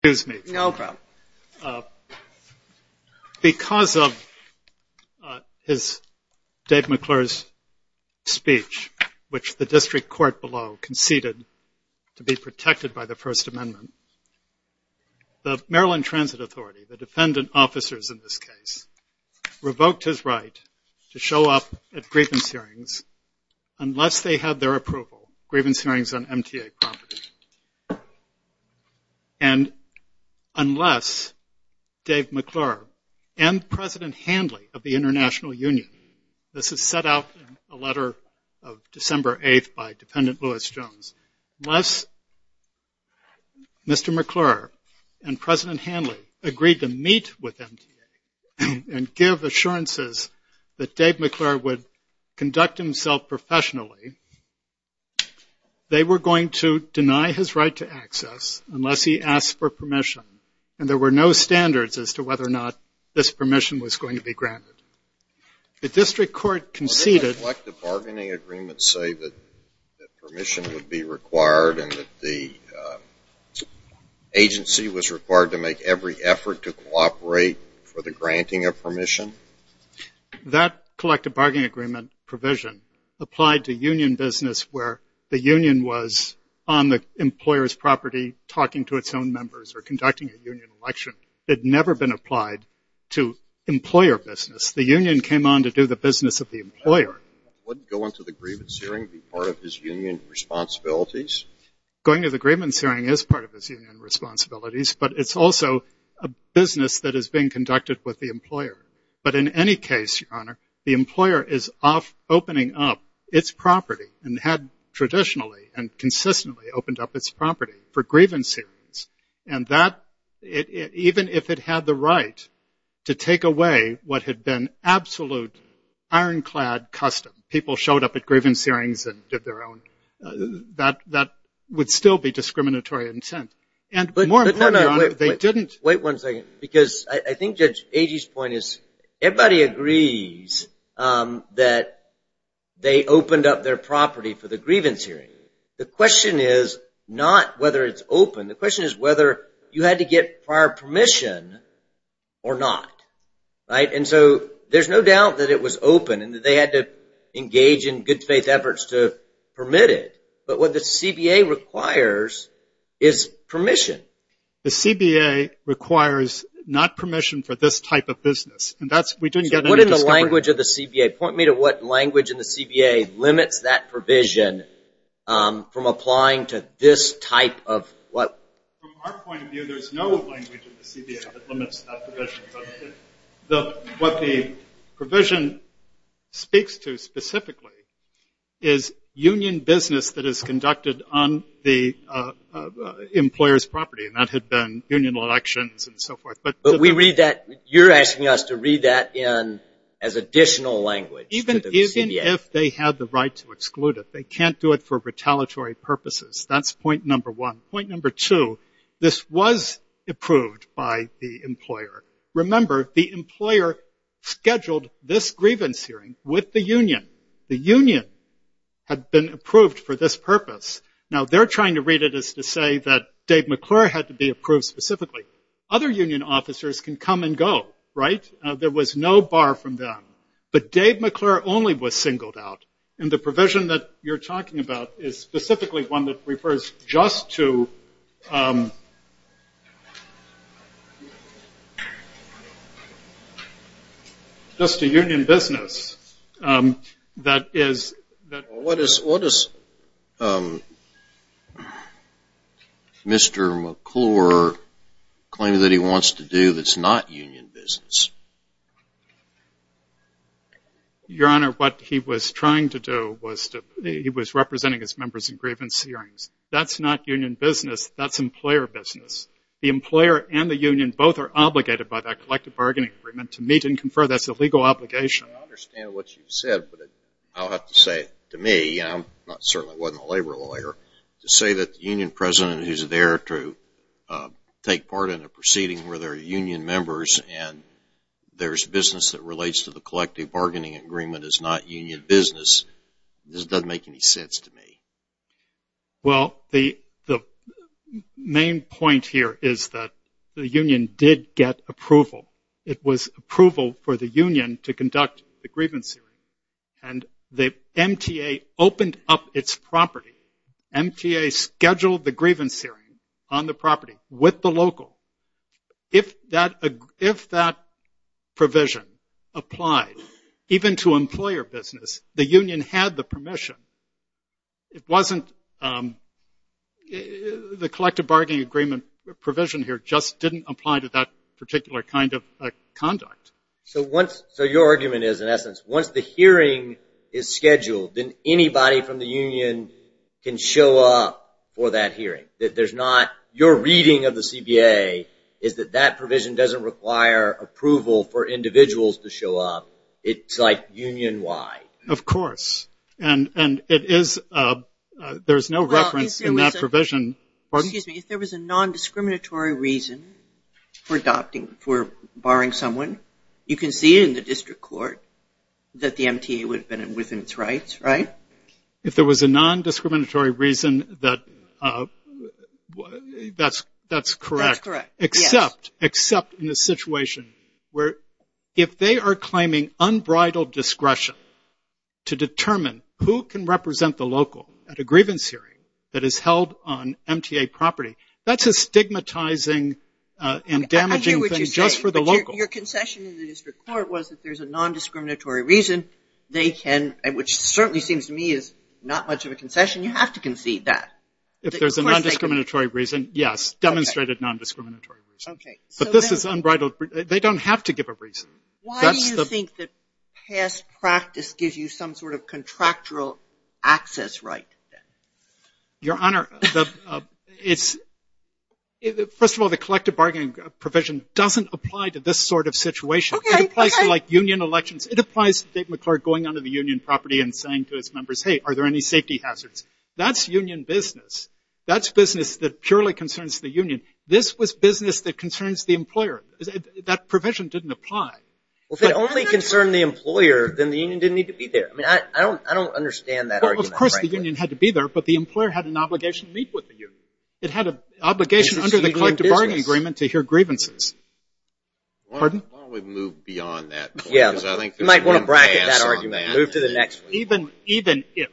Because of Dave McClure's speech, which the District Court below conceded to be protected by the First Amendment, the Maryland Transit Authority, the defendant officers in this case, revoked his right to show up at grievance hearings unless they had their approval. Grievance unless Dave McClure and President Hanley of the International Union, this is set out in a letter of December 8th by Defendant Louis Jones, unless Mr. McClure and President Hanley agreed to meet with MTA and give assurances that Dave McClure would conduct himself professionally, they were going to deny his right to access unless he asked for permission. And there were no standards as to whether or not this permission was going to be granted. The District Court conceded- Judge McClure Would a collective bargaining agreement say that permission would be required and that the agency was required to make every effort to cooperate for the granting of permission? Mr. Hanley That collective bargaining agreement provision applied to union business where the union was on the employer's property talking to its own members or conducting a union election. It had never been applied to employer business. The union came on to do the business of the employer. Judge McClure Would going to the grievance hearing be part of his union responsibilities? Mr. Hanley Going to the grievance hearing is part of his union responsibilities, but it's also a business that is being conducted with the employer. But in any case, Your Honor, the employer is opening up its property and had traditionally and consistently opened up its property for grievance hearings. And that, even if it had the right to take away what had been absolute ironclad custom, people showed up at grievance hearings and did their own, that would still be discriminatory intent. Judge McClure Wait one second, because I think Judge Agee's point is everybody agrees that they opened up their property for the grievance hearing. The question is not whether it's open. The question is whether you had to get prior permission or not. And so there's no doubt that it was open and that they had to engage in good faith efforts to permit it. But what the CBA requires is permission. Judge Agee The CBA requires not permission for this type of business. And that's, we didn't get any discovery. Mr. Hanley What is the language of the CBA? Point me to what language in the CBA limits that provision from applying to this type of what? Judge Agee From our point of view, there's no language in the CBA that limits that provision. What the provision speaks to specifically is union business that is conducted on the employer's property. And that had been union elections and so forth. Mr. Hanley But we read that, you're asking us to read that in as additional language to the CBA. Judge Agee Even if they had the right to exclude it, they can't do it for retaliatory purposes. That's point number one. Point number two, this was approved by the employer. Remember, the employer scheduled this grievance hearing with the union. The union had been approved for this purpose. Now, they're trying to read it as to say that Dave McClure had to be approved specifically. Other union officers can come and go, right? There was no bar from them. But Dave McClure only was singled out. And the provision that you're talking about is refers just to union business that is Mr. Hanley What is Mr. McClure claiming that he wants to do that's not union business? Judge Agee Your Honor, what he was trying to do was he was representing his members in grievance hearings. That's not union business. That's employer business. The employer and the union both are obligated by that collective bargaining agreement to meet and confer. That's a legal obligation. Mr. Hanley I understand what you said, but I'll have to say to me, and I certainly wasn't a labor lawyer, to say that the union president who's there to take part in a proceeding where there are union members and there's business that relates to the collective bargaining agreement is not union business. This doesn't make any sense to me. Judge Agee Well, the main point here is that the union did get approval. It was approval for the union to conduct the grievance hearing. And the MTA opened up its property. MTA scheduled the grievance hearing on the property with the local. If that provision applied even to employer business, the union had the permission. It wasn't the collective bargaining agreement provision here just didn't apply to that particular kind of conduct. Mr. McClure So your argument is, in essence, once the hearing is scheduled, then anybody from the union can show up for that hearing. Your reading of the CBA is that that provision doesn't require approval for individuals to show up. It's like union-wide. Judge Agee Of course. And there's no reference in that provision. Ms. Laird Excuse me. If there was a nondiscriminatory reason for adopting, for barring someone, you can see in the district court that the MTA would have been within its rights, right? Judge Agee If there was a nondiscriminatory reason, that's correct, except in the situation where if they are claiming unbridled discretion to determine who can represent the local at a grievance hearing that is held on MTA property, that's a stigmatizing and damaging thing just for the local. Ms. Laird Your concession in the district court was that if there's a nondiscriminatory reason, they can, which certainly seems to me is not much of a concession, you have to concede that. Judge Agee If there's a nondiscriminatory reason, yes, demonstrated nondiscriminatory reason. But this is unbridled. They don't have to give a reason. Ms. Laird Why do you think that past practice gives you some sort of contractual access right then? Judge Agee Your Honor, first of all, the collective bargaining provision doesn't apply to this sort of situation. It applies to like union elections. It applies to Dave McClurk going onto the union property and saying to his members, hey, are there any safety hazards? That's union business. That's business that purely concerns the union. This was business that concerns the employer. That provision didn't apply. Mr. McClurk Well, if it only concerned the employer, then the union didn't need to be there. I mean, I don't understand that argument, frankly. Judge Agee Well, of course the union had to be there, but the employer had an obligation to meet with the union. It had an obligation under the collective bargaining agreement to hear grievances. Mr. McClurk Why don't we move beyond that point, because I think there's room to pass Ms. Laird Yeah, we might want to bracket that argument and move to the next one. Judge Agee Even if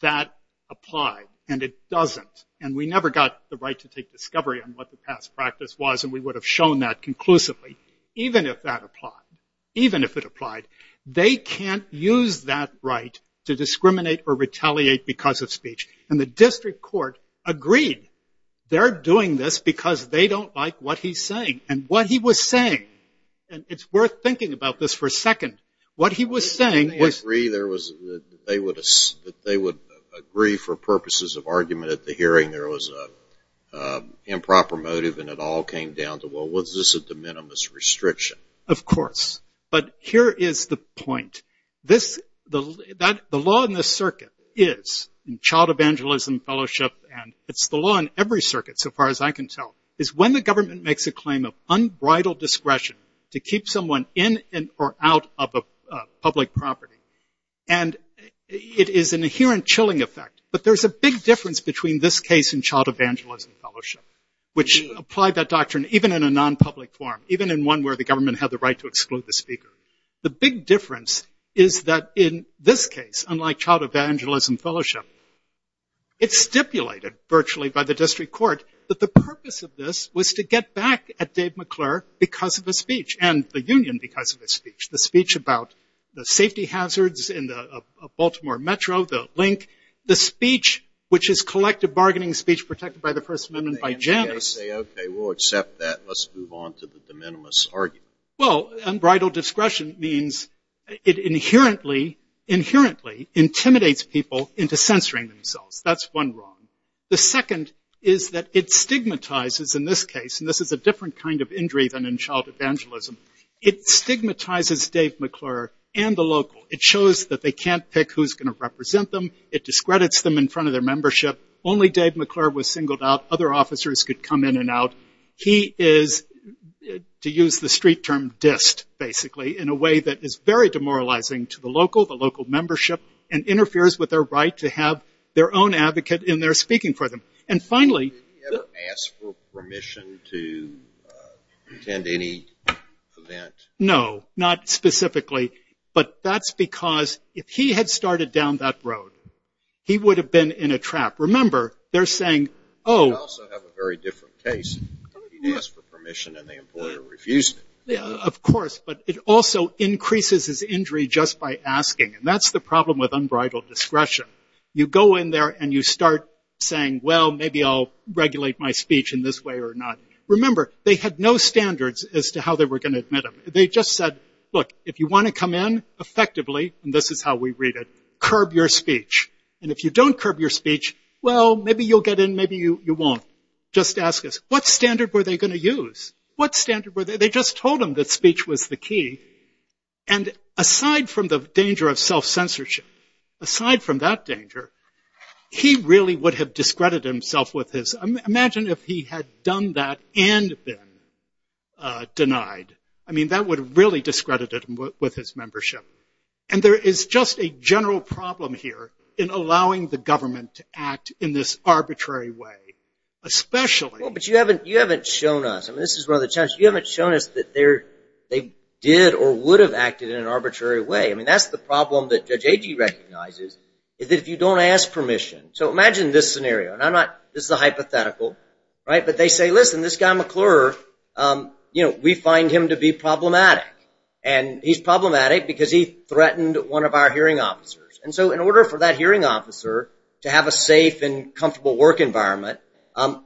that applied, and it doesn't, and we never got the right to take discovery on what the past practice was, and we would have shown that conclusively, even if that applied, even if it applied, they can't use that right to discriminate or retaliate because of speech. And the district court agreed they're doing this because they don't like what he's saying. And what he was saying, and it's worth thinking about this for a second, what he was saying was Mr. McClurk They would agree for purposes of argument at the hearing there was an improper motive and it all came down to, well, was this a de minimis restriction? Judge Agee Of course. But here is the point. The law in this circuit is, in child evangelism fellowship, and it's the law in every circuit so far as I can tell, is when the government makes a claim of unbridled discretion to keep someone in or out of a public property, and it is an inherent chilling effect. But there's a big difference between this case in child evangelism fellowship, which applied that doctrine even in a nonpublic forum, even in one where the government had the right to exclude the speaker. The big difference is that in this case, unlike child evangelism fellowship, it's stipulated virtually by the district court that the purpose of this was to get back at Dave McClurk because of a speech and the union because of a speech. The speech about the safety hazards in the Baltimore metro, the link, the speech which is collective bargaining speech protected by the First Amendment by Janus. I say, OK, we'll accept that. Let's move on to the de minimis argument. Judge Agee Well, unbridled discretion means it inherently intimidates people into censoring themselves. That's one wrong. The second is that it stigmatizes in this case, and this is a different kind of injury than in child evangelism, it stigmatizes Dave McClurk and the local. It shows that they can't pick who's going to represent them. It discredits them in front of their membership. Only Dave McClurk was singled out. Other officers could come in and out. He is, to use the street term, dist, basically, in a way that is very demoralizing to the local, the local membership, and interferes with their right to have their own advocate in there speaking for them. And finally- Judge Agee Did he ever ask for permission to attend any event? Judge Agee No, not specifically, but that's because if he had started down that road, he would have been in a trap. Remember, they're saying, oh- Judge Agee That's a very different case. He didn't ask for permission and the employer refused it. Judge Agee Yeah, of course, but it also increases his injury just by asking, and that's the problem with unbridled discretion. You go in there and you start saying, well, maybe I'll regulate my speech in this way or not. Remember, they had no standards as to how they were going to admit him. They just said, look, if you want to come in, effectively, and this is how we read it, curb your speech. And if you don't curb your speech, well, maybe you'll get in, maybe you won't. Just ask us, what standard were they going to use? What standard were they- they just told him that speech was the key. And aside from the danger of self-censorship, aside from that danger, he really would have discredited himself with his- imagine if he had done that and been denied. I mean, that would really discredit him with his membership. And there is just a general problem here in allowing the government to act in this arbitrary way, especially- Justice Breyer Well, but you haven't- you haven't shown us- I mean, this is one of the challenges- you haven't shown us that they're- they did or would have acted in an arbitrary way. I mean, that's the problem that Judge Agee recognizes, is that if you don't ask permission- so imagine this scenario, and I'm not- this is a hypothetical, right? But they say, listen, this guy McClure, you know, we find him to be problematic. And he's problematic because he threatened one of our hearing officers. And so in order for that hearing officer to have a safe and comfortable work environment,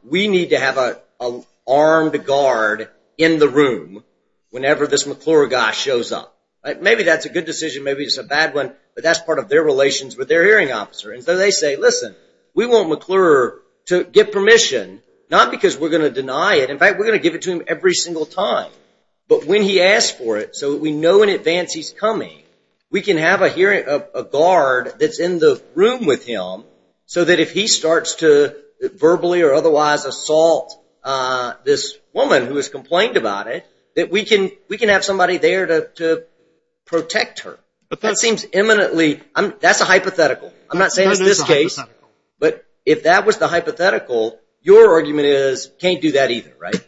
we need to have an armed guard in the room whenever this McClure guy shows up. Maybe that's a good decision, maybe it's a bad one, but that's part of their relations with their hearing officer. And so they say, listen, we want McClure to get permission, not because we're going to deny it. In fact, we're going to give it to him every single time. But when he asks for it, so we know in advance he's coming, we can have a hearing- a guard that's in the room with him, so that if he starts to verbally or otherwise assault this woman who has complained about it, that we can- we can have somebody there to protect her. But that seems eminently- that's a hypothetical. I'm not saying it's this case, but if that was the hypothetical, your argument is can't do that either, right?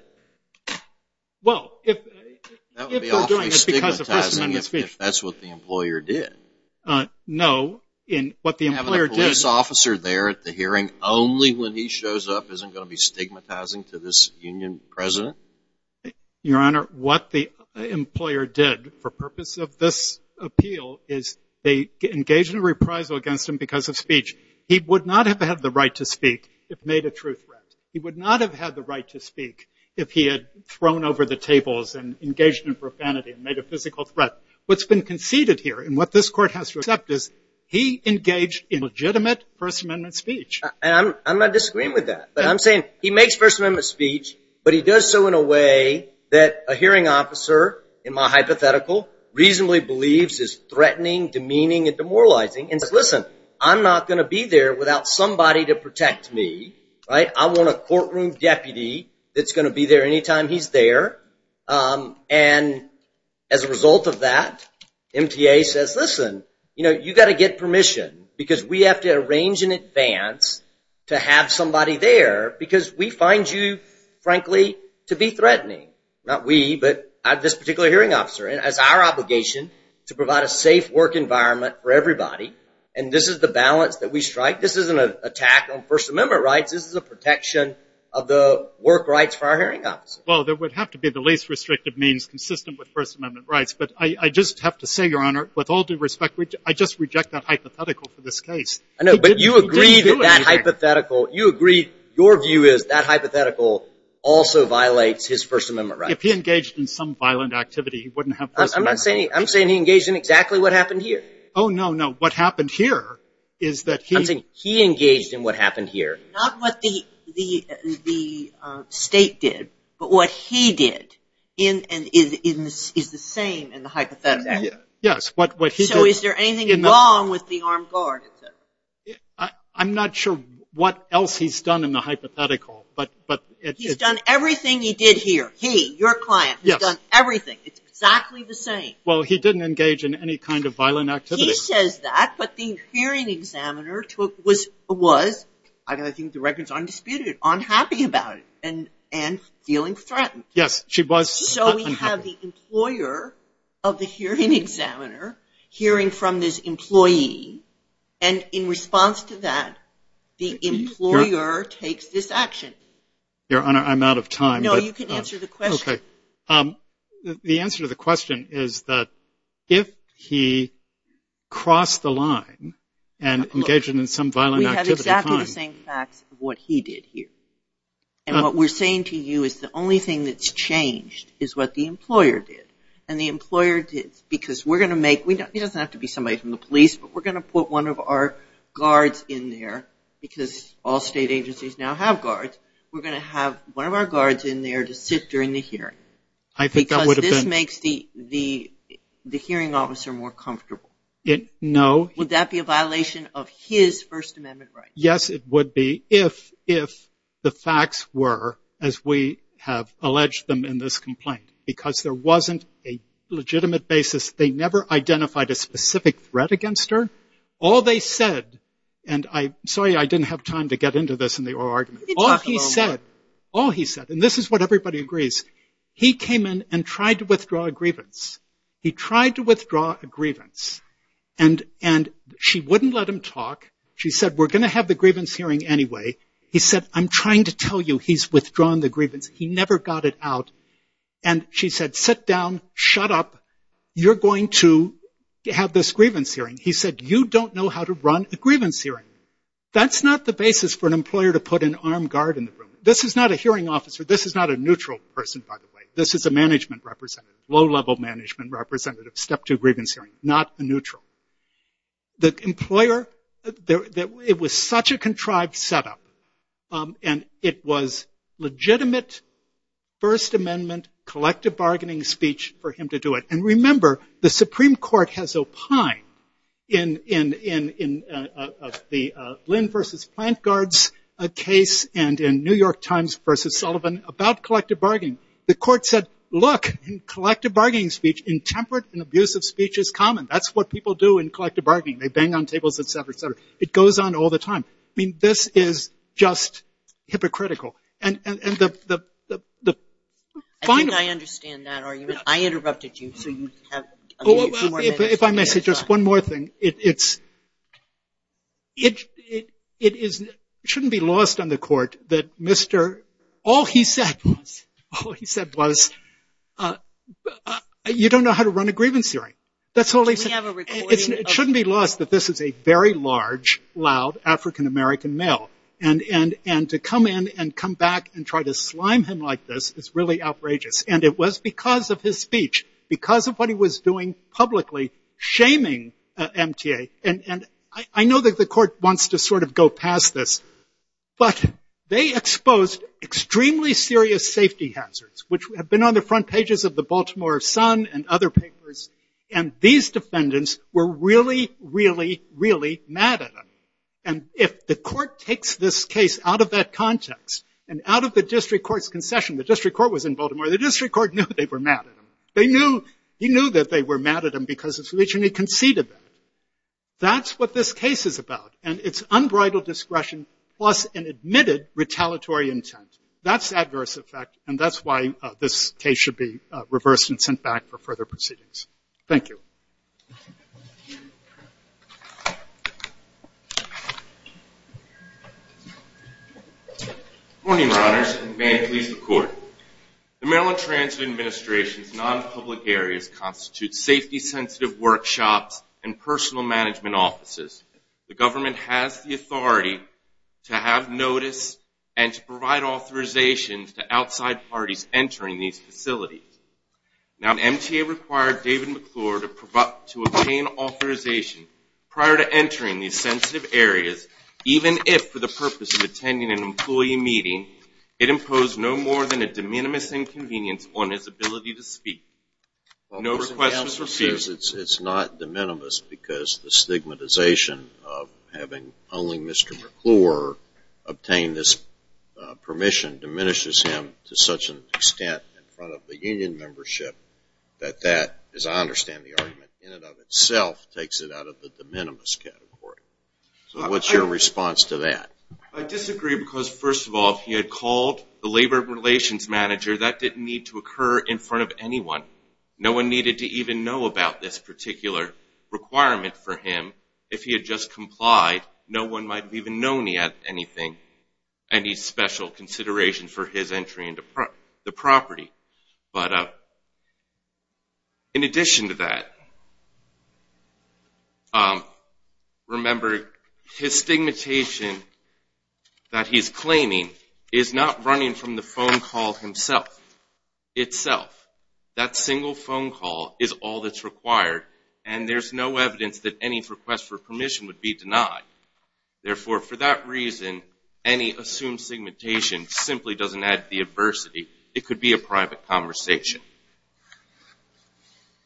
Well, if- That would be awfully stigmatizing if that's what the employer did. No, in what the employer did- Having a police officer there at the hearing only when he shows up isn't going to be stigmatizing to this union president? Your Honor, what the employer did for purpose of this appeal is they engaged in a reprisal against him because of speech. He would not have had the right to speak if made a true threat. He would not have had the right to speak if he had thrown over the tables and engaged in profanity and made a physical threat. What's been conceded here and what this Court has to accept is he engaged in legitimate First Amendment speech. And I'm not disagreeing with that, but I'm saying he makes First Amendment speech, but he does so in a way that a hearing officer, in my hypothetical, reasonably believes is threatening, demeaning, and demoralizing and says, listen, I'm not going to be there without somebody to protect me, right? I want a courtroom deputy that's going to be there anytime he's there. And as a result of that, MTA says, listen, you know, you got to get permission because we have to arrange in advance to have somebody there because we find you, frankly, to be threatening. Not we, but this particular hearing officer. And it's our obligation to provide a safe work environment for everybody. And this is the balance that we strike. This isn't an attack on First Amendment rights. This is a protection of the work rights for our hearing officers. Well, there would have to be the least restrictive means consistent with First Amendment rights. But I just have to say, Your Honor, with all due respect, I just reject that hypothetical for this case. I know, but you agree that that hypothetical, you agree, your view is that hypothetical also violates his First Amendment rights. If he engaged in some violent activity, he wouldn't have First Amendment rights. I'm saying he engaged in exactly what happened here. Oh, no, no. What happened here is that he... I'm saying he engaged in what happened here. Not what the state did, but what he did is the same in the hypothetical. Yes, what he did... So is there anything wrong with the armed guard? I'm not sure what else he's done in the hypothetical, but... He's done everything he did here. He, your client, has done everything. It's exactly the same. Well, he didn't engage in any kind of violent activity. He says that, but the hearing examiner was, I think the record's undisputed, unhappy about it and feeling threatened. Yes, she was unhappy. So we have the employer of the hearing examiner hearing from this employee, and in response to that, the employer takes this action. Your Honor, I'm out of time. No, you can answer the question. Okay. The answer to the question is that if he crossed the line and engaged in some violent activity... We have exactly the same facts of what he did here, and what we're saying to you is the only thing that's changed is what the employer did, and the employer did because we're going to make... He doesn't have to be somebody from the police, but we're going to put one of our guards in there because all state agencies now have guards. We're going to have one of our guards in there to sit during the hearing. I think that would have been... Because this makes the hearing officer more comfortable. No. Would that be a violation of his First Amendment rights? Yes, it would be if the facts were as we have alleged them in this complaint, because there wasn't a legitimate basis. They never identified a specific threat against her. All they said, and I'm sorry I didn't have time to get into this in the oral argument. All he said, and this is what everybody agrees, he came in and tried to withdraw a grievance. He tried to withdraw a grievance, and she wouldn't let him talk. She said, we're going to have the grievance hearing anyway. He said, I'm trying to tell you he's withdrawn the grievance. He never got it out, and she said, sit down, shut up. You're going to have this grievance hearing. He said, you don't know how to run a grievance hearing. That's not the basis for an employer to put an armed guard in the room. This is not a hearing officer. This is not a neutral person, by the way. This is a management representative, low-level management representative, step two grievance hearing, not a neutral. The employer, it was such a contrived setup, and it was legitimate First Amendment collective bargaining speech for him to do it. Remember, the Supreme Court has opined in the Lynn versus Plant Guards case and in New York Times versus Sullivan about collective bargaining. The court said, look, in collective bargaining speech, intemperate and abusive speech is common. That's what people do in collective bargaining. They bang on tables, et cetera, et cetera. It goes on all the time. This is just hypocritical. I think I understand that argument. I interrupted you, so you have a few more minutes. If I may say just one more thing, it shouldn't be lost on the court that Mr. All he said was, you don't know how to run a grievance hearing. That's all he said. It shouldn't be lost that this is a very large, loud African-American male. And to come in and come back and try to slime him like this is really outrageous. And it was because of his speech, because of what he was doing publicly, shaming MTA. And I know that the court wants to sort of go past this. But they exposed extremely serious safety hazards, which have been on the front pages of the Baltimore Sun and other papers. And these defendants were really, really, really mad at him. And if the court takes this case out of that context and out of the district court's The district court knew they were mad at him. They knew. He knew that they were mad at him because of his speech, and he conceded that. That's what this case is about. And it's unbridled discretion plus an admitted retaliatory intent. That's adverse effect. And that's why this case should be reversed and sent back for further proceedings. Thank you. Good morning, your honors, and may it please the court. The Maryland Transit Administration's non-public areas constitute safety-sensitive workshops and personal management offices. The government has the authority to have notice and to provide authorization to outside parties entering these facilities. Now, MTA required David McClure to obtain authorization prior to entering these sensitive areas, even if for the purpose of attending an employee meeting, it imposed no more than a de minimis inconvenience on his ability to speak. No request was received. It's not de minimis because the stigmatization of having only Mr. McClure obtain this extent in front of the union membership, that that, as I understand the argument, in and of itself takes it out of the de minimis category. What's your response to that? I disagree because, first of all, if he had called the labor relations manager, that didn't need to occur in front of anyone. No one needed to even know about this particular requirement for him. If he had just complied, no one might have even known he had anything, any special consideration for his entry into the property. But in addition to that, remember, his stigmatization that he's claiming is not running from the phone call himself, itself. That single phone call is all that's required, and there's no evidence that any request for permission would be denied. Therefore, for that reason, any assumed stigmatization simply doesn't add to the adversity. It could be a private conversation.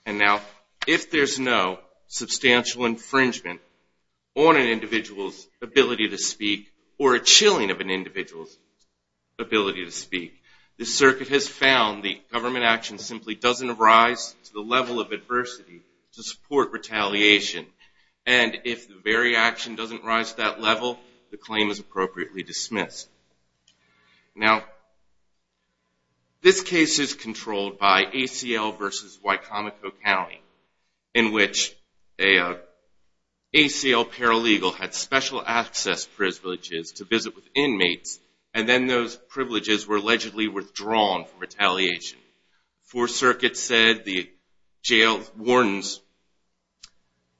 And now, if there's no substantial infringement on an individual's ability to speak or a chilling of an individual's ability to speak, the circuit has found the government action simply doesn't arise to the level of adversity to support retaliation. And if the very action doesn't rise to that level, the claim is appropriately dismissed. Now, this case is controlled by ACL versus Wicomico County, in which an ACL paralegal had special access privileges to visit with inmates, and then those privileges were allegedly withdrawn for retaliation. Fourth Circuit said the jail warden's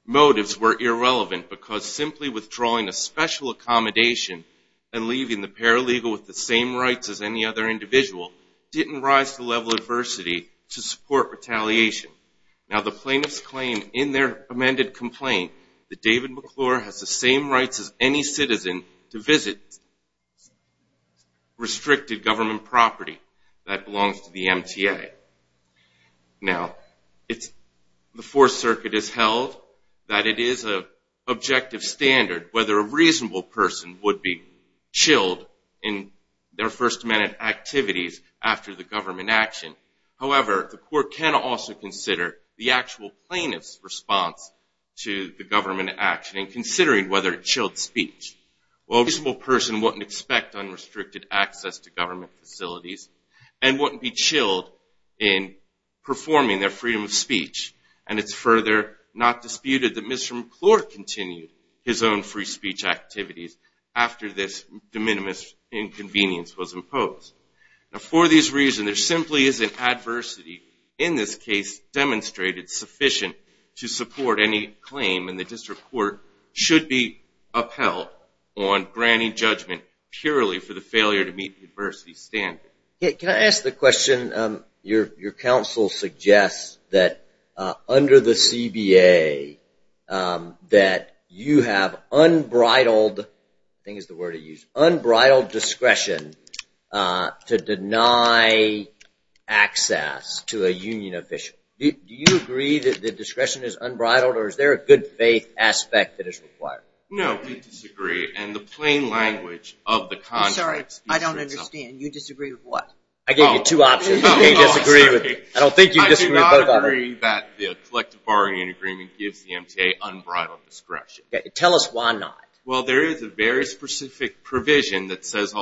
motives were irrelevant because simply withdrawing a special accommodation and leaving the paralegal with the same rights as any other individual didn't rise to the level of adversity to support retaliation. Now, the plaintiffs claim in their amended complaint that David McClure has the same rights as any citizen to visit restricted government property that belongs to the MTA. Now, the Fourth Circuit has held that it is an objective standard whether a reasonable person would be chilled in their First Amendment activities after the government action. However, the court can also consider the actual plaintiff's response to the government action and considering whether it chilled speech. While a reasonable person wouldn't expect unrestricted access to government facilities and wouldn't be chilled in performing their freedom of speech, and it's further not disputed that Mr. McClure continued his own free speech activities after this de minimis inconvenience was imposed. Now, for these reasons, there simply isn't adversity in this case demonstrated sufficient to support any claim, and the district court should be upheld on granting judgment purely for the failure to meet the adversity standard. Yeah, can I ask the question, your counsel suggests that under the CBA that you have unbridled, I think is the word to use, unbridled discretion to deny access to a union official. Do you agree that the discretion is unbridled or is there a good faith aspect that is required? No, we disagree. And the plain language of the contract... I'm sorry, I don't understand. You disagree with what? I gave you two options. You can't disagree with me. I don't think you disagree with both of them. I do not agree that the collective borrowing agreement gives the MTA unbridled discretion. Tell us why not. Well, there is a very specific provision that says,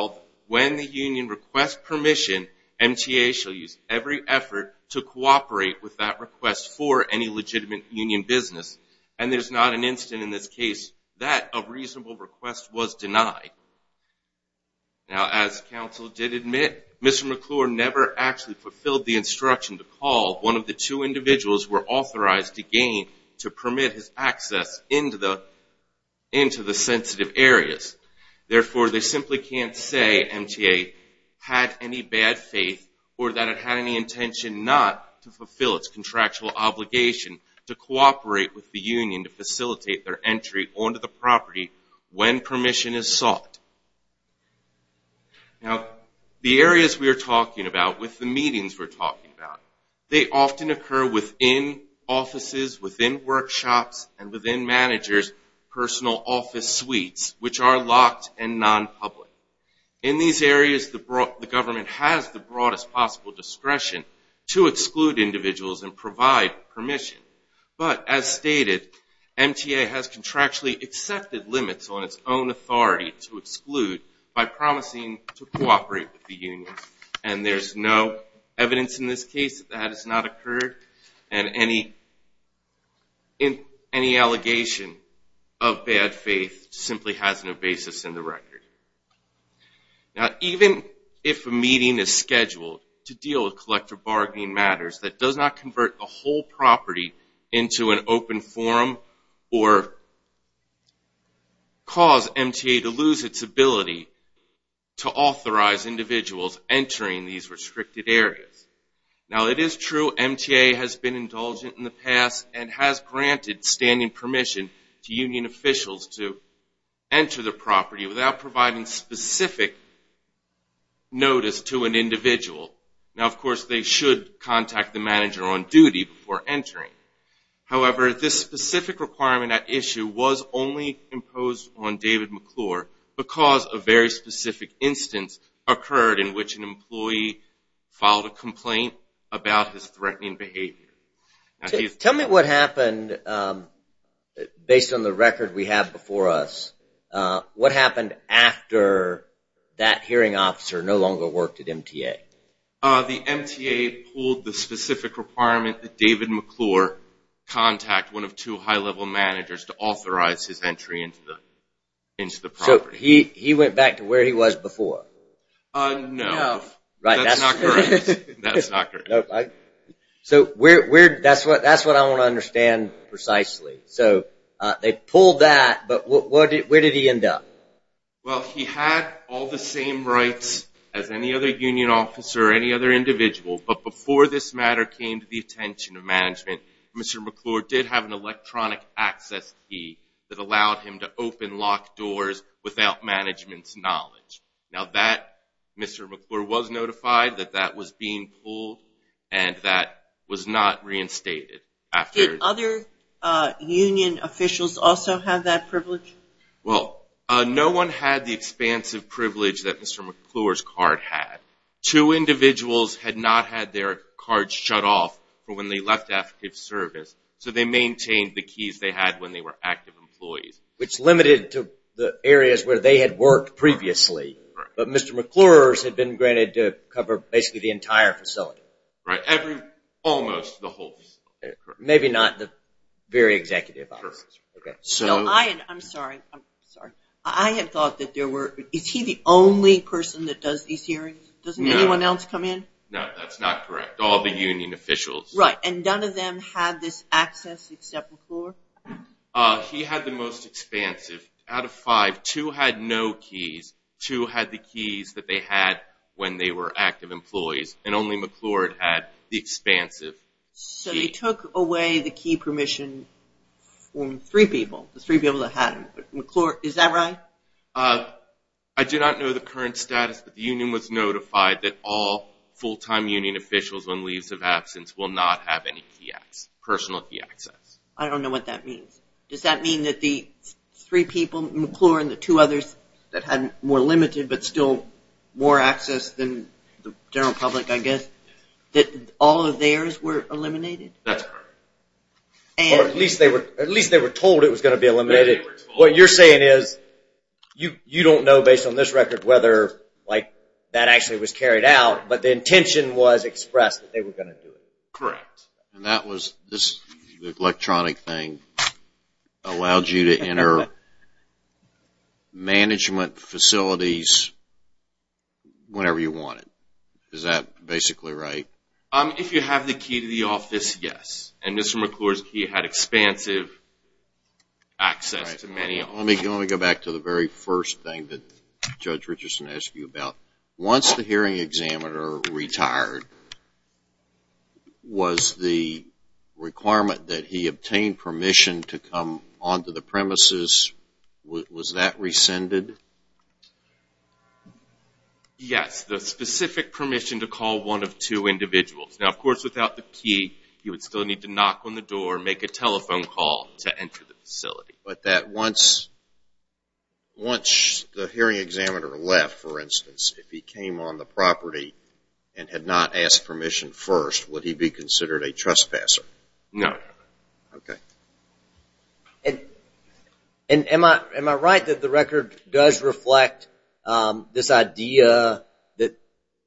when the union requests permission, MTA shall use every effort to cooperate with that request for any legitimate union business. And there's not an incident in this case that a reasonable request was denied. Now, as counsel did admit, Mr. McClure never actually fulfilled the instruction to call one of the two individuals were authorized to gain to permit his access into the sensitive areas. Therefore, they simply can't say MTA had any bad faith or that it had any intention not to fulfill its contractual obligation to cooperate with the union to facilitate their entry onto the property when permission is sought. Now, the areas we are talking about with the meetings we're talking about, they often occur within offices, within workshops, and within managers' personal office suites, which are locked and non-public. In these areas, the government has the broadest possible discretion to exclude individuals and provide permission. But as stated, MTA has contractually accepted limits on its own authority to exclude by promising to cooperate with the union. And there's no evidence in this case that that has not occurred. And any allegation of bad faith simply has no basis in the record. Now, even if a meeting is scheduled to deal with collector bargaining matters, that does not convert the whole property into an open forum or cause MTA to lose its ability to authorize individuals entering these restricted areas. Now, it is true MTA has been indulgent in the past and has granted standing permission to union officials to enter the property without providing specific notice to an individual. Now, of course, they should contact the manager on duty before entering. However, this specific requirement at issue was only imposed on David McClure because a very specific instance occurred in which an employee filed a complaint about his threatening behavior. Tell me what happened based on the record we have before us. What happened after that hearing officer no longer worked at MTA? The MTA pulled the specific requirement that David McClure contact one of two high-level managers to authorize his entry into the property. So he went back to where he was before? No. That's not correct. So that's what I want to understand precisely. So they pulled that, but where did he end up? Well, he had all the same rights as any other union officer or any other individual, but before this matter came to the attention of management, Mr. McClure did have an electronic access key that allowed him to open locked doors without management's knowledge. Now, Mr. McClure was notified that that was being pulled and that was not reinstated. Did other union officials also have that privilege? Well, no one had the expansive privilege that Mr. McClure's card had. Two individuals had not had their cards shut off for when they left active service, so they maintained the keys they had when they were active employees. Which limited to the areas where they had worked previously, but Mr. McClure's had been granted to cover basically the entire facility. Right, almost the whole facility. Maybe not the very executive offices. I'm sorry, I'm sorry. I had thought that there were... Is he the only person that does these hearings? Doesn't anyone else come in? No, that's not correct. All the union officials. Right, and none of them had this access except McClure? He had the most expansive. Out of five, two had no keys. Two had the keys that they had when they were active employees and only McClure had the expansive key. So he took away the key permission from three people. The three people that had them. McClure, is that right? I do not know the current status, but the union was notified that all full-time union officials when leaves of absence will not have any key access, personal key access. I don't know what that means. Does that mean that the three people, McClure and the two others that had more limited, but still more access than the general public, I guess, that all of theirs were eliminated? That's correct. Or at least they were told it was going to be eliminated. What you're saying is you don't know based on this record whether that actually was carried out, but the intention was expressed that they were going to do it. Correct. And that was this electronic thing that allowed you to enter management facilities whenever you wanted. Is that basically right? If you have the key to the office, yes. And Mr. McClure's key had expansive access to many offices. Let me go back to the very first thing that Judge Richardson asked you about. Once the hearing examiner retired, was the requirement that he obtain permission to come onto the premises, was that rescinded? Yes, the specific permission to call one of two individuals. Now, of course, without the key, you would still need to knock on the door, make a telephone call to enter the facility. But that once the hearing examiner left, for instance, if he came on the property and had not asked permission first, would he be considered a trespasser? No. Okay. And am I right that the record does reflect this idea that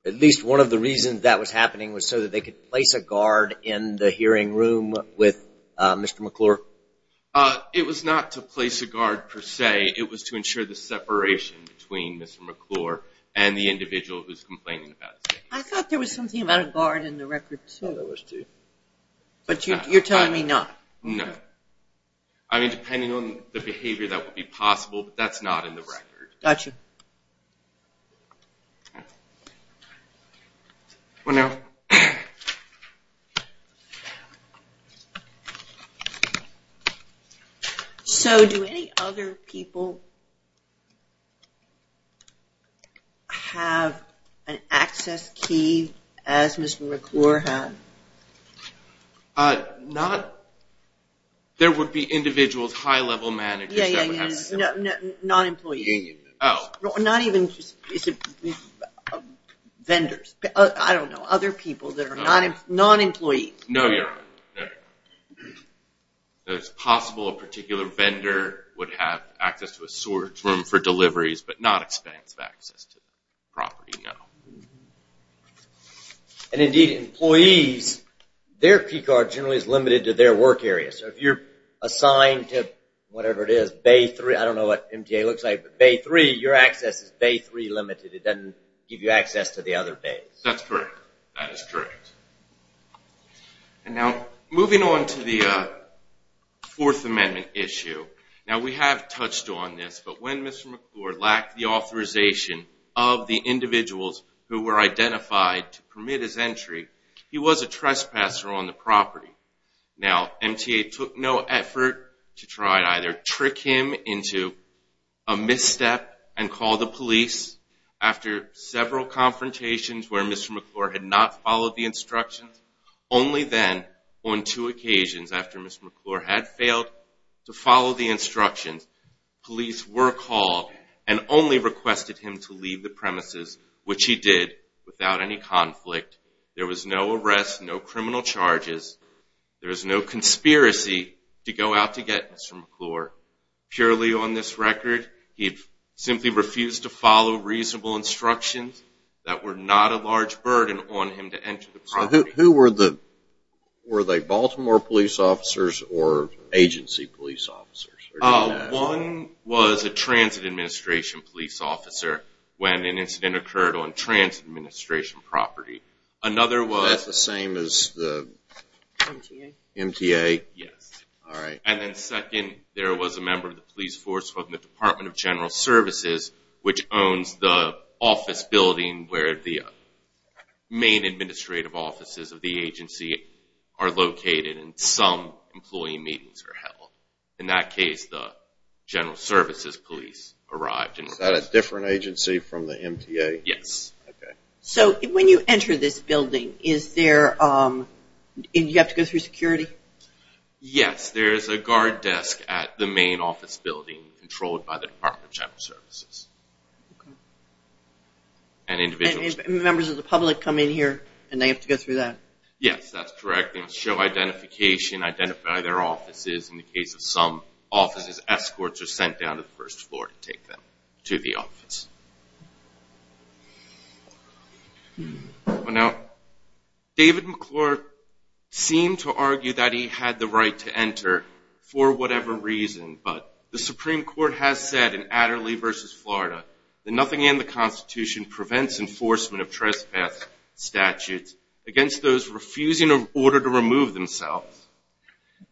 at least one of the reasons that was happening was so that they could place a guard in the hearing room with Mr. McClure? It was not to place a guard, per se. It was to ensure the separation between Mr. McClure and the individual who's complaining about safety. I thought there was something about a guard in the record, too. There was, too. But you're telling me not? No. I mean, depending on the behavior, that would be possible, but that's not in the record. Gotcha. One hour. So do any other people... have an access key as Mr. McClure had? Not... There would be individuals, high-level managers... Yeah, yeah, yeah, non-employees. Union members. Oh. Not even... vendors. I don't know. Other people that are non-employees. No, you're right. It's possible a particular vendor would have access to a storage room for deliveries, but not expense of access to the property. No. And indeed, employees, their key card generally is limited to their work area. So if you're assigned to whatever it is, Bay 3, I don't know what MTA looks like, but Bay 3, your access is Bay 3 limited. It doesn't give you access to the other bays. That's correct. That is correct. And now, moving on to the Fourth Amendment issue. Now, we have touched on this, but when Mr. McClure lacked the authorization of the individuals who were identified to permit his entry, he was a trespasser on the property. Now, MTA took no effort to try to either trick him into a misstep and call the police after several confrontations where Mr. McClure had not followed the instructions. Only then, on two occasions, after Mr. McClure had failed to follow the instructions, police were called and only requested him to leave the premises, which he did without any conflict. There was no arrest, no criminal charges. There was no conspiracy to go out to get Mr. McClure. Purely on this record, he simply refused to follow reasonable instructions that were not a large burden on him to enter the property. Who were the, were they Baltimore police officers or agency police officers? One was a transit administration police officer when an incident occurred on transit administration property. Another was... That's the same as the MTA? Yes. All right. And then second, there was a member of the police force from the Department of General Services, which owns the office building where the main administrative offices of the agency are located and some employee meetings are held. In that case, the general services police arrived. Is that a different agency from the MTA? Yes. So when you enter this building, is there, you have to go through security? Yes. There's a guard desk at the main office building controlled by the Department of General Services. And individuals... Members of the public come in here and they have to go through that? Yes, that's correct. They show identification, identify their offices. In the case of some offices, escorts are sent down to the first floor to take them to the office. Now, David McClure seemed to argue that he had the right to enter for whatever reason, but the Supreme Court has said in Adderley v. Florida that nothing in the Constitution prevents enforcement of trespass statutes against those refusing an order to remove themselves.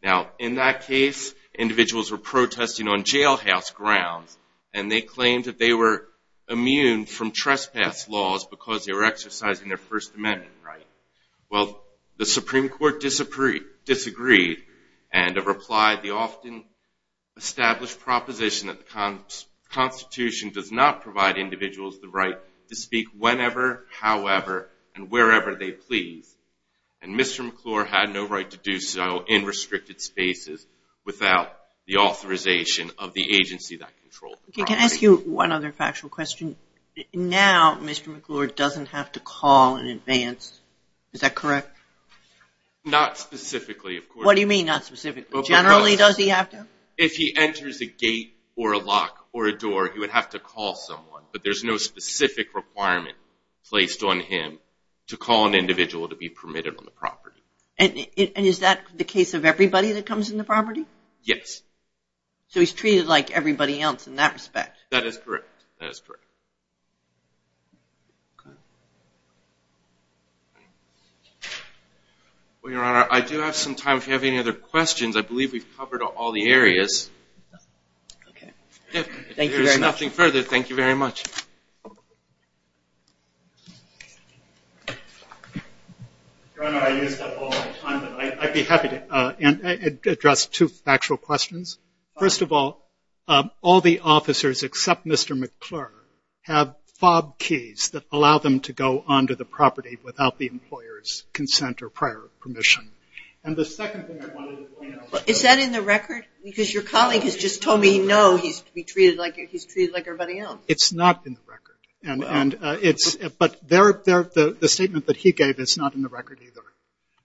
Now, in that case, individuals were protesting on jailhouse grounds and they claimed that they were immune from trespass laws because they were exercising their First Amendment right. Well, the Supreme Court disagreed and replied the often established proposition that the Constitution does not provide individuals the right to speak whenever, however, and wherever they please. And Mr. McClure had no right to do so in restricted spaces without the authorization of the agency that controlled the process. Can I ask you one other factual question? Now, Mr. McClure doesn't have to call in advance, is that correct? Not specifically, of course. What do you mean, not specifically? Generally, does he have to? If he enters a gate or a lock or a door, he would have to call someone, but there's no specific requirement placed on him to call an individual to be permitted on the property. And is that the case of everybody that comes in the property? Yes. So he's treated like everybody else in that respect? That is correct, that is correct. Well, Your Honor, I do have some time if you have any other questions. I believe we've covered all the areas. Okay, thank you very much. Thank you very much. Your Honor, I used up all my time, but I'd be happy to address two factual questions. First of all, all the officers except Mr. McClure have FOB keys that allow them to go onto the property without the employer's consent or prior permission. And the second thing I wanted to point out... Is that in the record? Because your colleague has just told me, no, he's treated like everybody else. It's not in the record. But the statement that he gave is not in the record either.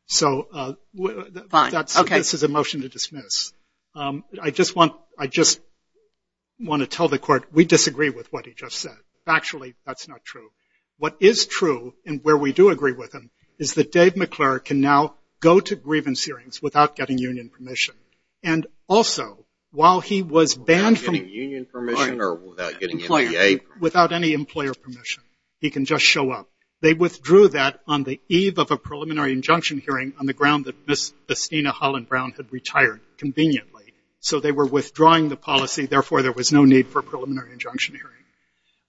So this is a motion to dismiss. I just want to tell the court, we disagree with what he just said. Factually, that's not true. What is true, and where we do agree with him, is that Dave McClure can now go to grievance hearings without getting union permission. And also, while he was banned from... Without getting union permission or without getting an EPA? Without any employer permission. He can just show up. They withdrew that on the eve of a preliminary injunction hearing on the ground that Ms. Estina Holland Brown had retired conveniently. So they were withdrawing the policy. Therefore, there was no need for a preliminary injunction hearing.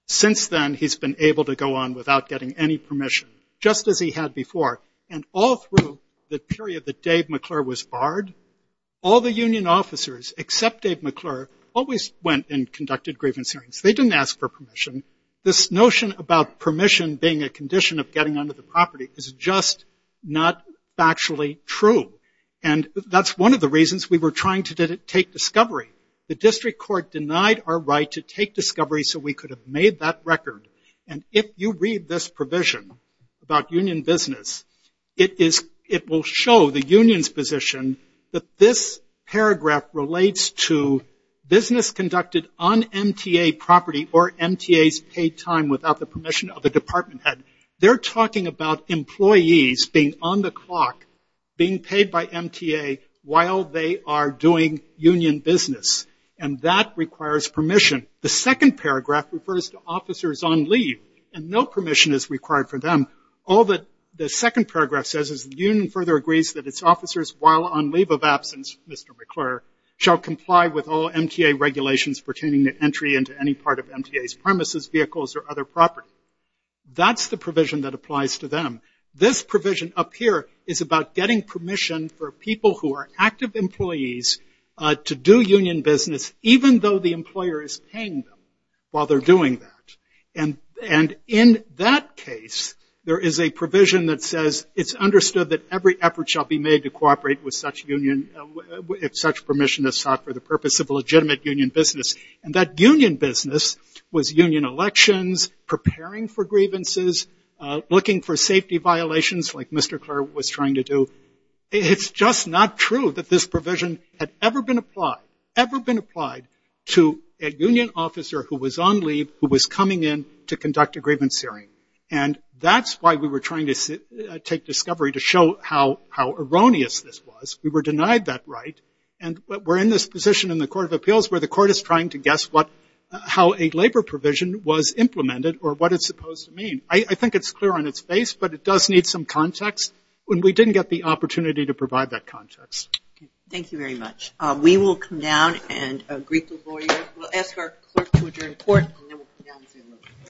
Since then, he's been able to go on without getting any permission, just as he had before. And all through the period that Dave McClure was barred, all the union officers, except Dave McClure, always went and conducted grievance hearings. They didn't ask for permission. This notion about permission being a condition of getting onto the property is just not factually true. And that's one of the reasons we were trying to take discovery. The district court denied our right to take discovery so we could have made that record. And if you read this provision about union business, it will show the union's position that this paragraph relates to business conducted on MTA property or MTA's paid time without the permission of the department head. They're talking about employees being on the clock, being paid by MTA while they are doing union business. And that requires permission. The second paragraph refers to officers on leave. And no permission is required for them. All that the second paragraph says is the union further agrees that its officers, while on leave of absence, Mr. McClure, shall comply with all MTA regulations pertaining to entry into any part of MTA's premises, vehicles, or other property. That's the provision that applies to them. This provision up here is about getting permission for people who are active employees to do union business, even though the employer is paying them while they're doing that. And in that case, there is a provision that says, it's understood that every effort shall be made to cooperate with such union if such permission is sought for the purpose of legitimate union business. And that union business was union elections, preparing for grievances, looking for safety violations like Mr. Clure was trying to do. It's just not true that this provision had ever been applied, ever been applied to a union officer who was on leave, who was coming in to conduct a grievance hearing. And that's why we were trying to take discovery to show how erroneous this was. We were denied that right. And we're in this position in the Court of Appeals where the court is trying to guess how a labor provision was implemented or what it's supposed to mean. I think it's clear on its face, but it does need some context. And we didn't get the opportunity to provide that context. Thank you very much. We will come down and greet the lawyer. We'll ask our clerk to adjourn the court, and then we'll come down and see the lawyer.